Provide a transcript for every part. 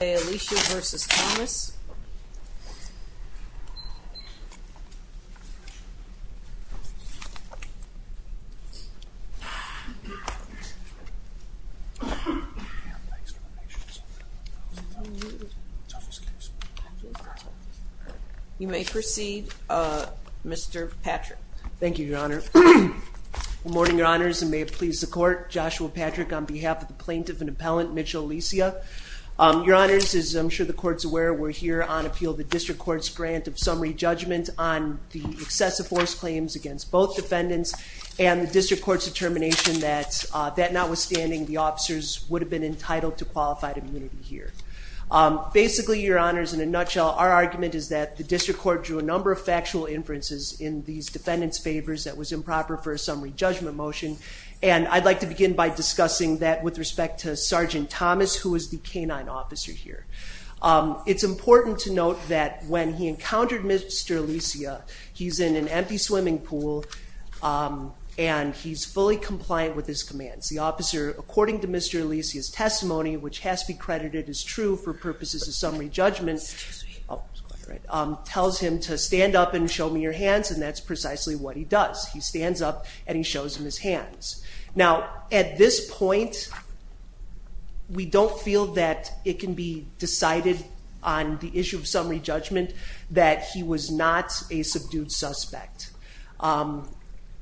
You may proceed, Mr. Patrick. Thank you, Your Honor. Good morning, Your Honors, and may it please the court, Joshua Patrick on behalf of the Plaintiff and Appellant, Mitchell Alicia. Your Honors, as I'm sure the court's aware, we're here on appeal of the District Court's grant of summary judgment on the excessive force claims against both defendants and the District Court's determination that notwithstanding, the officers would have been entitled to qualified immunity here. Basically, Your Honors, in a nutshell, our argument is that the District Court drew a number of factual inferences in these defendants' favors that was improper for a summary judgment motion, and I'd like to begin by discussing that with respect to Sergeant Thomas, who is the K-9 officer here. It's important to note that when he encountered Mr. Alicia, he's in an empty swimming pool and he's fully compliant with his commands. The officer, according to Mr. Alicia's testimony, which has to be credited as true for purposes of summary judgment, tells him to stand up and show me your hands, and that's precisely what he does. He stands up and he shows him his hands. Now, at this point, we don't feel that it can be decided on the issue of summary judgment that he was not a subdued suspect.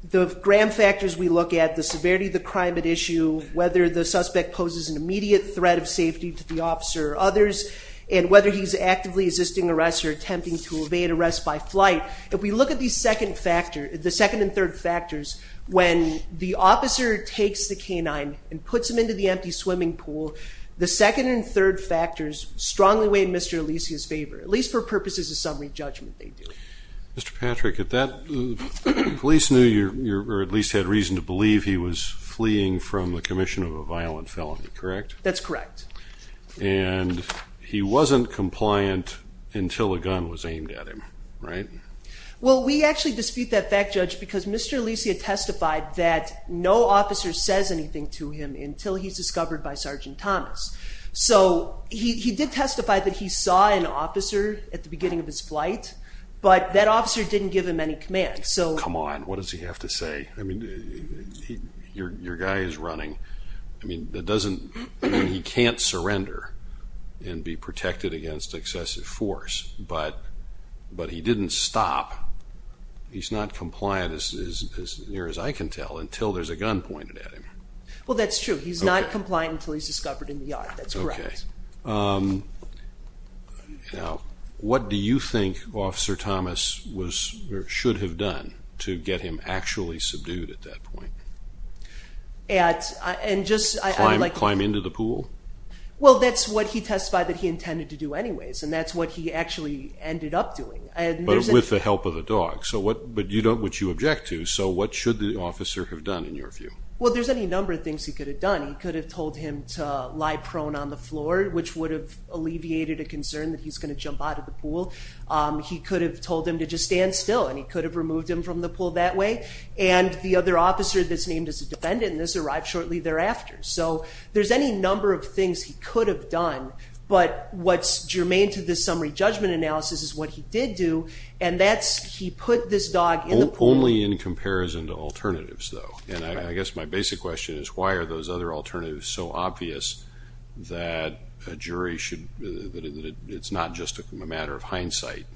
The grand factors we look at, the severity of the crime at issue, whether the suspect poses an immediate threat of safety to the officer or others, and whether he's actively assisting arrest or attempting to evade arrest by flight, if we look at the second and third factors, when the officer takes the K-9 and puts him into the empty swimming pool, the second and third factors strongly weigh Mr. Alicia's favor, at least for purposes of summary judgment they do. Mr. Patrick, the police knew, or at least had reason to believe, he was fleeing from the commission of a violent felony, correct? That's correct. And he wasn't compliant until a gun was aimed at him, right? Well, we actually dispute that fact, Judge, because Mr. Alicia testified that no officer says anything to him until he's discovered by Sergeant Thomas. So he did testify that he saw an officer at the beginning of his flight, but that officer didn't give him any command. Come on, what does he have to say? Your guy is running. He can't surrender and be protected against excessive force, but he didn't stop. He's not compliant, as near as I can tell, until there's a gun pointed at him. Well, that's true. He's not compliant until he's discovered in the yard. That's correct. Okay. Now, what do you think Officer Thomas should have done to get him actually subdued at that point? Climb into the pool? Well, that's what he testified that he intended to do anyways, and that's what he actually ended up doing. But with the help of a dog, which you object to. So what should the officer have done, in your view? Well, there's any number of things he could have done. He could have told him to lie prone on the floor, which would have alleviated a concern that he's going to jump out of the pool. He could have told him to just stand still, and he could have removed him from the pool that way. And the other officer that's named as a defendant, and this arrived shortly thereafter. So there's any number of things he could have done, but what's germane to this summary judgment analysis is what he did do, and that's he put this dog in the pool. Only in comparison to alternatives, though. And I guess my basic question is, why are those other alternatives so obvious that a jury should, that it's not just a matter of hindsight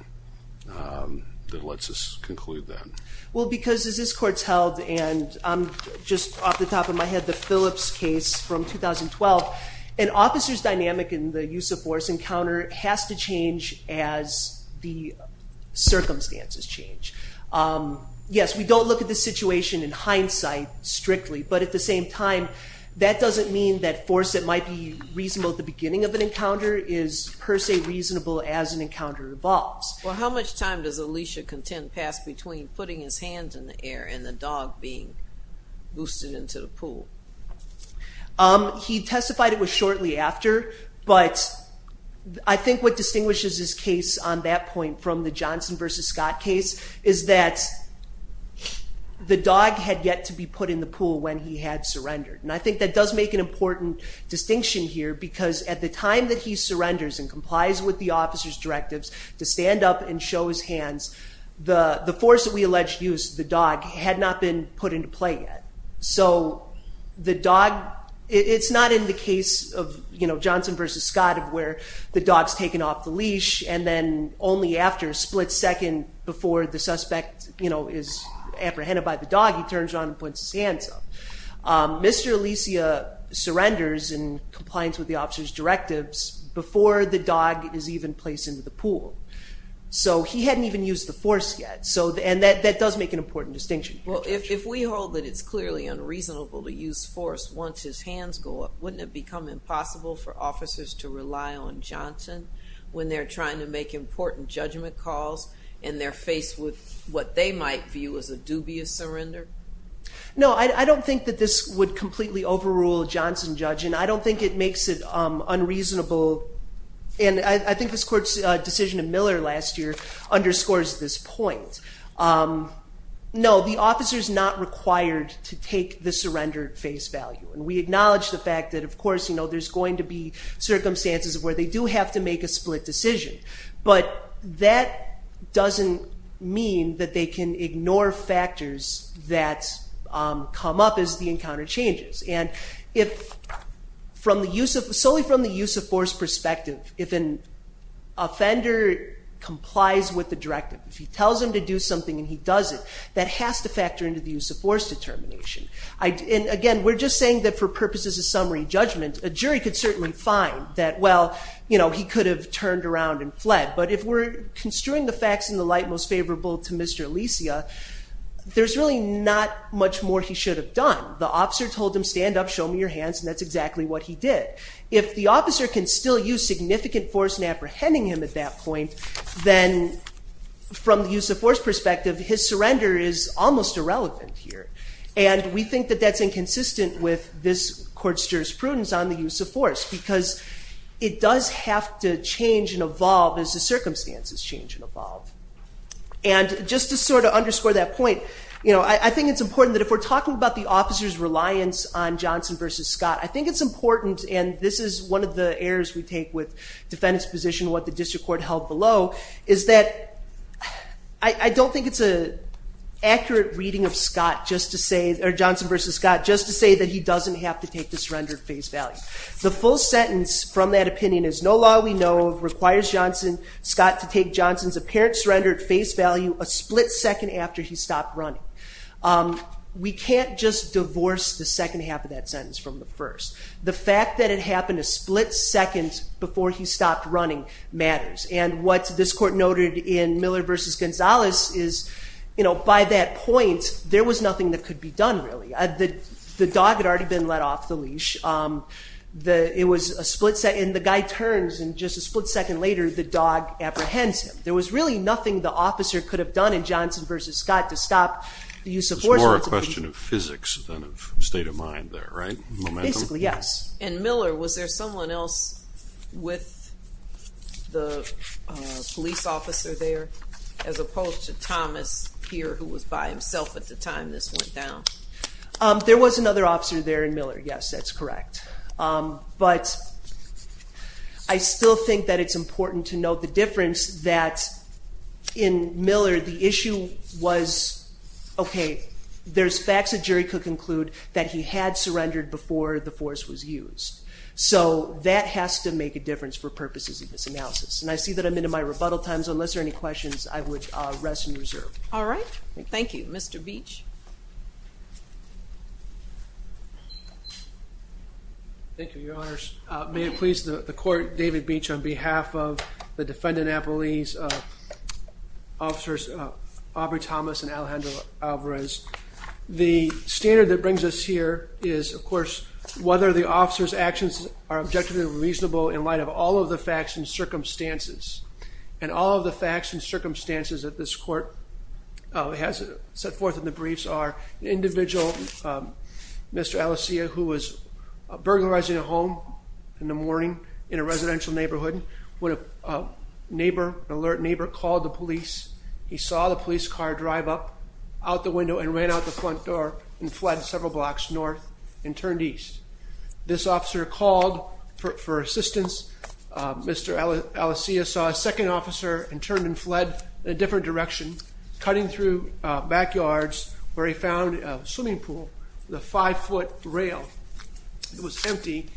that lets us conclude that? Well, because as this court's held, and I'm just off the top of my head, the Phillips case from 2012, an officer's dynamic in the use of force encounter has to change as the circumstances change. Yes, we don't look at the situation in hindsight strictly, but at the same time, that doesn't mean that force that might be reasonable at the beginning of an encounter is per se reasonable as an encounter evolves. Well, how much time does Alicia contend pass between putting his hands in the air and the dog being boosted into the pool? He testified it was shortly after, but I think what distinguishes this case on that point from the Johnson v. Scott case is that the dog had yet to be put in the pool when he had surrendered. And I think that does make an important distinction here, because at the time that he surrenders and complies with the officer's directives to stand up and show his hands, the force that we allege used, the dog, had not been put into play yet. So the dog, it's not in the case of Johnson v. Scott of where the dog's taken off the leash and then only after a split second before the suspect is apprehended by the dog, he turns around and puts his hands up. Mr. Alicia surrenders in compliance with the officer's directives before the dog is even placed into the pool. So he hadn't even used the force yet, and that does make an important distinction. Well, if we hold that it's clearly unreasonable to use force once his hands go up, wouldn't it become impossible for officers to rely on Johnson when they're trying to make important judgment calls and they're faced with what they might view as a dubious surrender? No, I don't think that this would completely overrule a Johnson judge, and I don't think it makes it unreasonable. And I think this court's decision in Miller last year underscores this point. No, the officer's not required to take the surrender at face value. And we acknowledge the fact that, of course, there's going to be circumstances where they do have to make a split decision. But that doesn't mean that they can ignore factors that come up as the encounter changes. And if, solely from the use of force perspective, if an offender complies with the directive, if he tells him to do something and he does it, that has to factor into the use of force determination. And again, we're just saying that for purposes of summary judgment, a jury could certainly find that, well, he could have turned around and fled. But if we're construing the facts in the light most favorable to Mr. Alicia, there's really not much more he should have done. The officer told him, stand up, show me your hands, and that's exactly what he did. If the officer can still use significant force in apprehending him at that point, then from the use of force perspective, his surrender is almost irrelevant here. And we think that that's inconsistent with this court's jurisprudence on the use of force. Because it does have to change and evolve as the circumstances change and evolve. And just to sort of underscore that point, I think it's important that if we're talking about the officer's reliance on Johnson v. Scott, I think it's important, and this is one of the errors we take with defendant's position, what the district court held below, is that I don't think it's an accurate reading of Johnson v. Scott just to say that he doesn't have to take the surrendered face value. The full sentence from that opinion is, no law we know of requires Johnson v. Scott to take Johnson's apparent surrendered face value a split second after he stopped running. We can't just divorce the second half of that sentence from the first. The fact that it happened a split second before he stopped running matters. And what this court noted in Miller v. Gonzalez is, by that point, there was nothing that could be done, really. The dog had already been let off the leash. It was a split second, and the guy turns, and just a split second later, the dog apprehends him. There was really nothing the officer could have done in Johnson v. Scott to stop the use of force. It's more a question of physics than of state of mind there, right? Basically, yes. In Miller, was there someone else with the police officer there, as opposed to Thomas here, who was by himself at the time this went down? There was another officer there in Miller, yes, that's correct. But I still think that it's important to note the difference that in Miller, the issue was, okay, there's facts a jury could conclude that he had surrendered before the force was used. So that has to make a difference for purposes of this analysis. And I see that I'm into my rebuttal times. Unless there are any questions, I would rest in reserve. All right. Thank you. Mr. Beach? Thank you, Your Honors. May it please the court, David Beach, on behalf of the defendant at police, officers Aubrey Thomas and Alejandro Alvarez. The standard that brings us here is, of course, whether the officer's actions are objectively reasonable in light of all of the facts and circumstances. And all of the facts and circumstances that this court has set forth in the briefs are the individual, Mr. Alicea, who was burglarizing a home in the morning in a residential neighborhood, when a neighbor, an alert neighbor, called the police. He saw the police car drive up out the window and ran out the front door and fled several blocks north and turned east. This officer called for assistance. Mr. Alicea saw a second officer and turned and fled in a different direction, cutting through backyards, where he found a swimming pool with a five-foot rail. It was empty.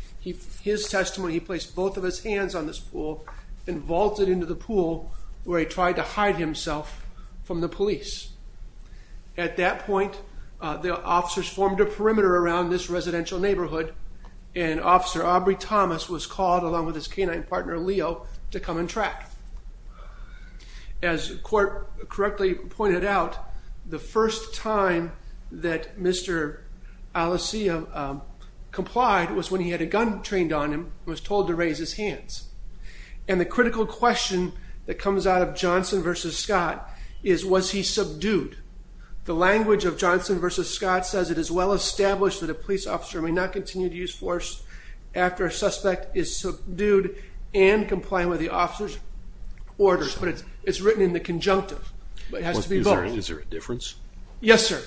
His testimony, he placed both of his hands on this pool and vaulted into the pool, where he tried to hide himself from the police. At that point, the officers formed a perimeter around this residential neighborhood, and Officer Aubrey Thomas was called, along with his canine partner, Leo, to come and track. As the court correctly pointed out, the first time that Mr. Alicea complied was when he had a gun trained on him and was told to raise his hands. And the critical question that comes out of Johnson v. Scott is, was he subdued? The language of Johnson v. Scott says, It is well established that a police officer may not continue to use force after a suspect is subdued and compliant with the officer's orders. But it's written in the conjunctive. Is there a difference? Yes, sir.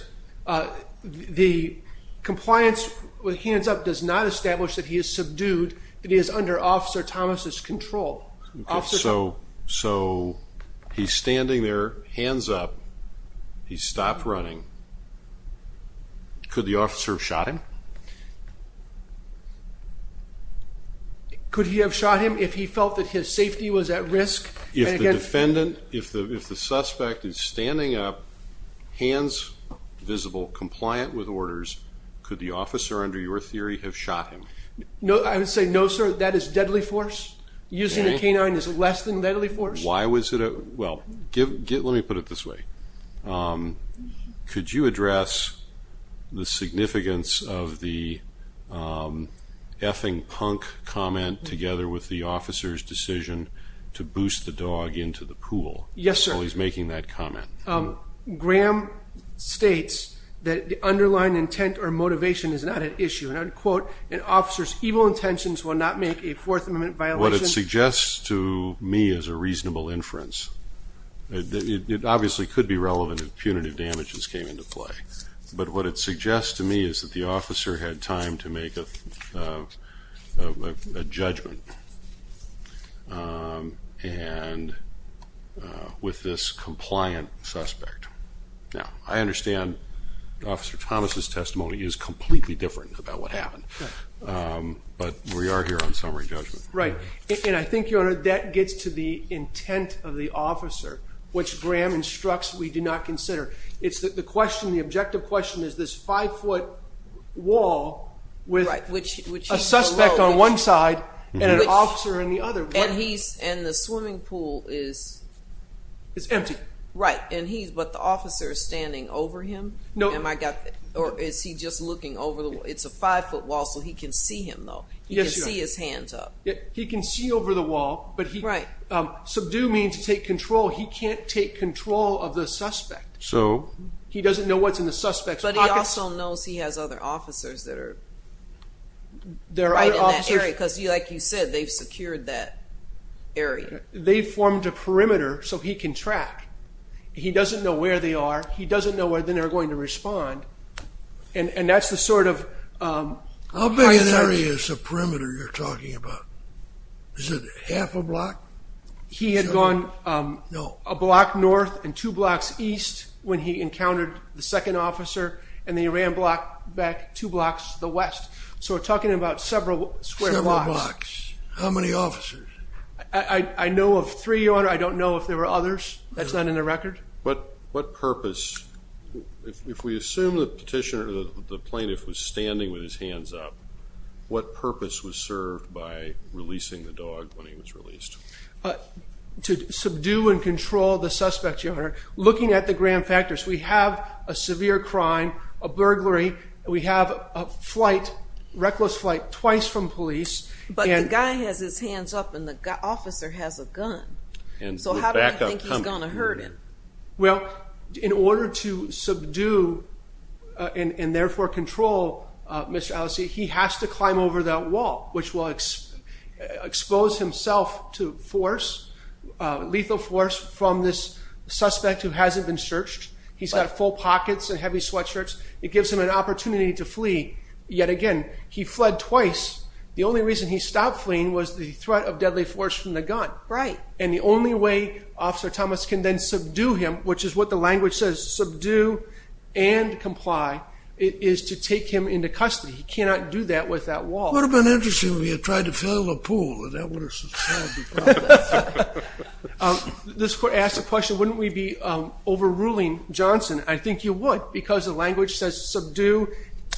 The compliance with hands up does not establish that he is subdued, that he is under Officer Thomas's control. So he's standing there, hands up. He stopped running. Could the officer have shot him? Could he have shot him if he felt that his safety was at risk? If the defendant, if the suspect is standing up, hands visible, compliant with orders, could the officer, under your theory, have shot him? I would say no, sir. That is deadly force. Using a canine is less than deadly force. Why was it? Well, let me put it this way. Could you address the significance of the effing punk comment together with the officer's decision to boost the dog into the pool? Yes, sir. While he's making that comment. Graham states that the underlying intent or motivation is not at issue, and I would quote, An officer's evil intentions will not make a Fourth Amendment violation. What it suggests to me is a reasonable inference. It obviously could be relevant if punitive damages came into play. But what it suggests to me is that the officer had time to make a judgment with this compliant suspect. Now, I understand Officer Thomas's testimony is completely different about what happened. But we are here on summary judgment. Right. And I think, Your Honor, that gets to the intent of the officer, which Graham instructs we do not consider. It's the question, the objective question, is this five-foot wall with a suspect on one side and an officer on the other. And the swimming pool is empty. Right. But the officer is standing over him? No. Or is he just looking over the wall? It's a five-foot wall, so he can see him, though. Yes, Your Honor. He can see his hands up. He can see over the wall. Right. But subdue means take control. He can't take control of the suspect. So? He doesn't know what's in the suspect's pockets. But he also knows he has other officers that are right in that area because, like you said, they've secured that area. They formed a perimeter so he can track. He doesn't know where they are. He doesn't know when they're going to respond. And that's the sort of how you search. How big an area is the perimeter you're talking about? Is it half a block? He had gone a block north and two blocks east when he encountered the second officer, and then he ran back two blocks to the west. So we're talking about several square blocks. Several blocks. How many officers? I know of three, Your Honor. I don't know if there were others. That's not in the record. What purpose? If we assume the petitioner, the plaintiff, was standing with his hands up, what purpose was served by releasing the dog when he was released? To subdue and control the suspect, Your Honor. Looking at the grand factors, we have a severe crime, a burglary, and we have a flight, reckless flight, twice from police. But the guy has his hands up and the officer has a gun. So how do we think he's going to hurt him? Well, in order to subdue and therefore control Mr. Allesee, he has to climb over that wall, which will expose himself to force, lethal force from this suspect who hasn't been searched. He's got full pockets and heavy sweatshirts. It gives him an opportunity to flee. Yet again, he fled twice. The only reason he stopped fleeing was the threat of deadly force from the gun. Right. And the only way Officer Thomas can then subdue him, which is what the language says, subdue and comply, is to take him into custody. He cannot do that with that wall. It would have been interesting if he had tried to fill the pool. That would have solved the problem. This court asked the question, wouldn't we be overruling Johnson? I think you would because the language says subdue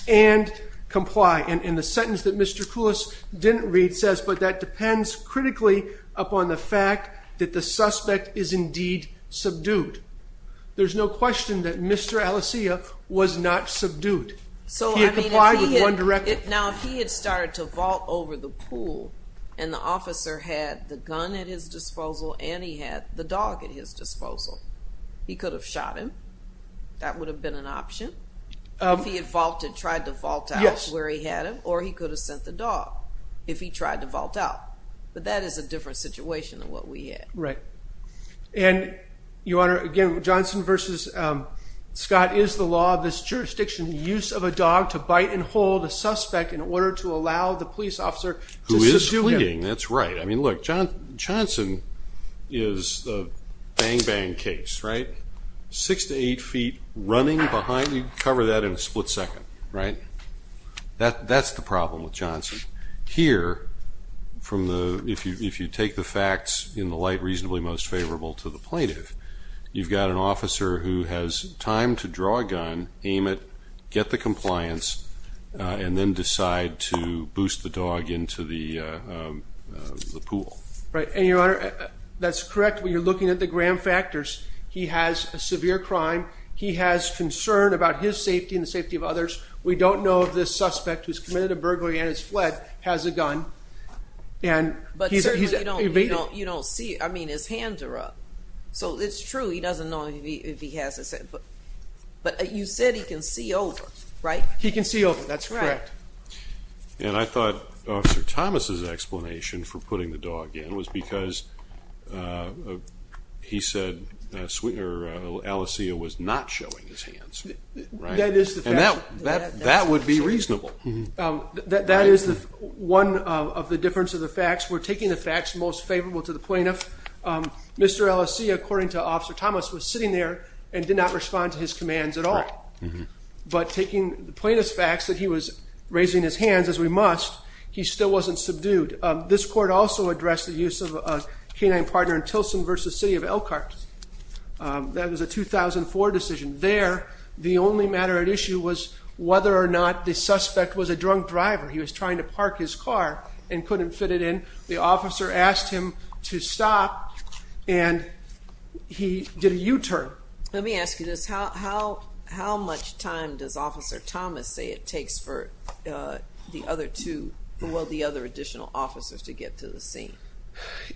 and comply. And the sentence that Mr. Koulos didn't read says, but that depends critically upon the fact that the suspect is indeed subdued. There's no question that Mr. Allesee was not subdued. He had complied with one directive. Now, if he had started to vault over the pool and the officer had the gun at his disposal and he had the dog at his disposal, he could have shot him. That would have been an option. If he had tried to vault out where he had him, or he could have sent the dog. If he tried to vault out. But that is a different situation than what we had. Right. And, Your Honor, again, Johnson v. Scott is the law. This jurisdiction, the use of a dog to bite and hold a suspect in order to allow the police officer to subdue him. Who is fleeting, that's right. I mean, look, Johnson is the bang-bang case, right? Six to eight feet running behind him. You can cover that in a split second, right? That's the problem with Johnson. Here, if you take the facts in the light reasonably most favorable to the plaintiff, you've got an officer who has time to draw a gun, aim it, get the compliance, and then decide to boost the dog into the pool. Right. And, Your Honor, that's correct when you're looking at the Graham factors. He has a severe crime. He has concern about his safety and the safety of others. We don't know if this suspect, who's committed a burglary and has fled, has a gun. But certainly you don't see it. I mean, his hands are up. So it's true he doesn't know if he has a gun. But you said he can see over, right? He can see over. That's correct. And I thought Officer Thomas' explanation for putting the dog in was because he said Alessia was not showing his hands. And that would be reasonable. That is one of the difference of the facts. We're taking the facts most favorable to the plaintiff. Mr. Alessia, according to Officer Thomas, was sitting there and did not respond to his commands at all. But taking the plaintiff's facts that he was raising his hands, as we must, he still wasn't subdued. This court also addressed the use of a canine partner in Tilson v. City of Elkhart. That was a 2004 decision. There, the only matter at issue was whether or not the suspect was a drunk driver. He was trying to park his car and couldn't fit it in. The officer asked him to stop, and he did a U-turn. Let me ask you this. How much time does Officer Thomas say it takes for the other two, well, the other additional officers to get to the scene?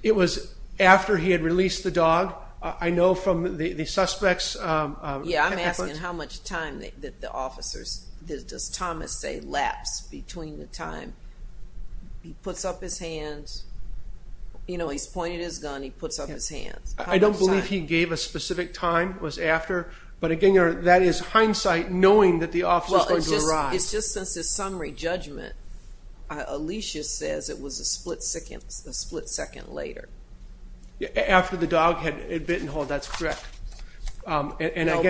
It was after he had released the dog. I know from the suspect's report. Yeah, I'm asking how much time the officers, does Thomas say, laps between the time he puts up his hands. You know, he's pointed his gun, he puts up his hands. I don't believe he gave a specific time, was after. But, again, that is hindsight knowing that the officer is going to arrive. It's just since his summary judgment, Alicia says it was a split second later. After the dog had bitten hold, that's correct. No,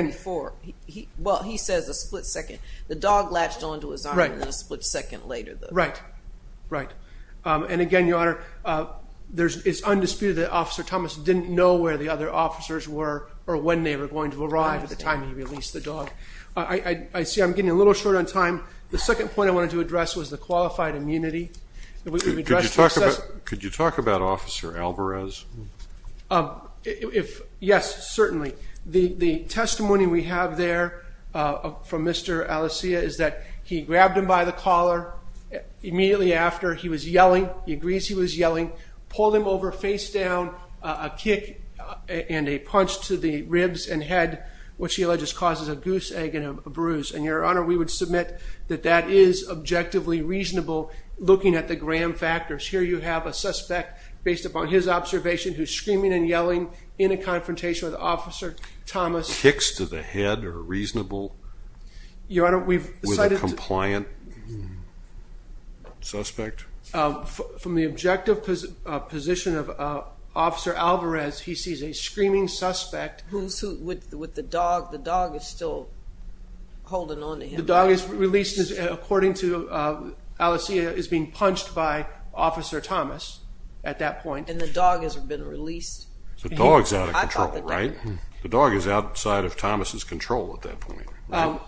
before. Well, he says a split second. The dog latched onto his arm a split second later. Right, right. And, again, Your Honor, it's undisputed that Officer Thomas didn't know where the other officers were or when they were going to arrive at the time he released the dog. I see I'm getting a little short on time. The second point I wanted to address was the qualified immunity. Could you talk about Officer Alvarez? Yes, certainly. The testimony we have there from Mr. Alicia is that he grabbed him by the collar. Immediately after, he was yelling. He agrees he was yelling, pulled him over face down, a kick and a punch to the ribs and head, which he alleges causes a goose egg and a bruise. And, Your Honor, we would submit that that is objectively reasonable looking at the gram factors. Here you have a suspect, based upon his observation, who's screaming and yelling in a confrontation with Officer Thomas. Kicks to the head are reasonable with a compliant suspect? From the objective position of Officer Alvarez, he sees a screaming suspect. With the dog, the dog is still holding on to him. The dog is released, according to Alicia, is being punched by Officer Thomas at that point. And the dog has been released. The dog is out of control, right? The dog is outside of Thomas' control at that point.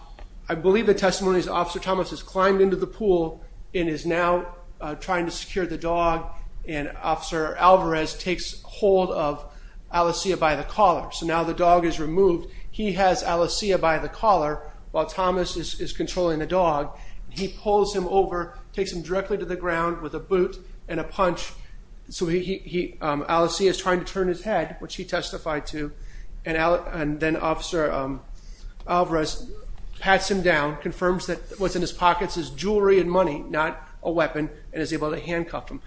I believe the testimony is Officer Thomas has climbed into the pool and is now trying to secure the dog, and Officer Alvarez takes hold of Alicia by the collar. So now the dog is removed. He has Alicia by the collar while Thomas is controlling the dog. He pulls him over, takes him directly to the ground with a boot and a punch. So Alicia is trying to turn his head, which he testified to. And then Officer Alvarez pats him down, confirms that what's in his pockets is jewelry and money, not a weapon, and is able to handcuff him.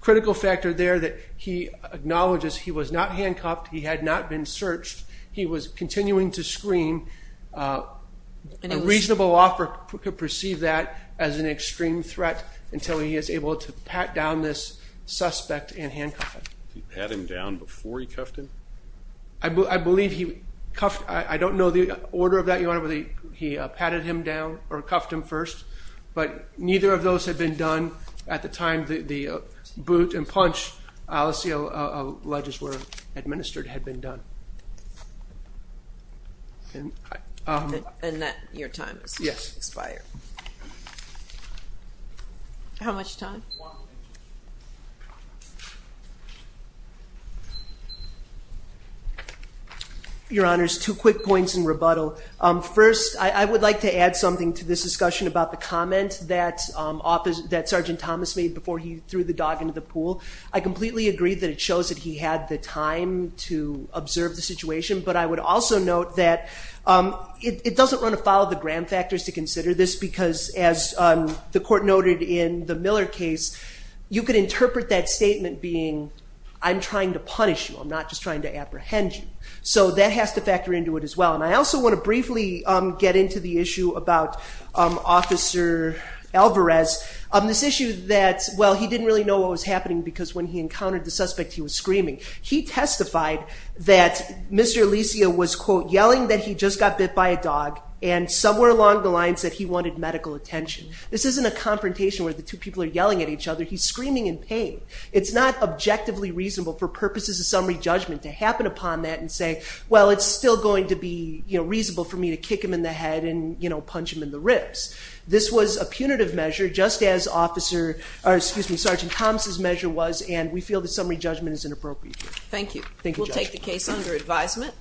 Critical factor there that he acknowledges he was not handcuffed. He had not been searched. He was continuing to scream. A reasonable officer could perceive that as an extreme threat until he is able to pat down this suspect and handcuff him. Did he pat him down before he cuffed him? I believe he cuffed. I don't know the order of that, Your Honor, whether he patted him down or cuffed him first. But neither of those had been done at the time the boot and punch, Alicia ledges were administered, had been done. And that your time has expired. Yes. How much time? One minute. Your Honors, two quick points in rebuttal. First, I would like to add something to this discussion about the comment that Sergeant Thomas made before he threw the dog into the pool. I completely agree that it shows that he had the time to observe the situation. But I would also note that it doesn't run afoul of the grand factors to consider this because, as the Court noted in the Miller case, you could interpret that statement being, I'm trying to punish you. I'm not just trying to apprehend you. So that has to factor into it as well. And I also want to briefly get into the issue about Officer Alvarez. This issue that, well, he didn't really know what was happening because when he encountered the suspect he was screaming. He testified that Mr. Alicia was, quote, yelling that he just got bit by a dog and somewhere along the lines that he wanted medical attention. This isn't a confrontation where the two people are yelling at each other. He's screaming in pain. It's not objectively reasonable for purposes of summary judgment to happen upon that and say, well, it's still going to be reasonable for me to kick him in the head and punch him in the ribs. This was a punitive measure just as Sergeant Thomas's measure was, and we feel that summary judgment is inappropriate. Thank you. We'll take the case under advisement.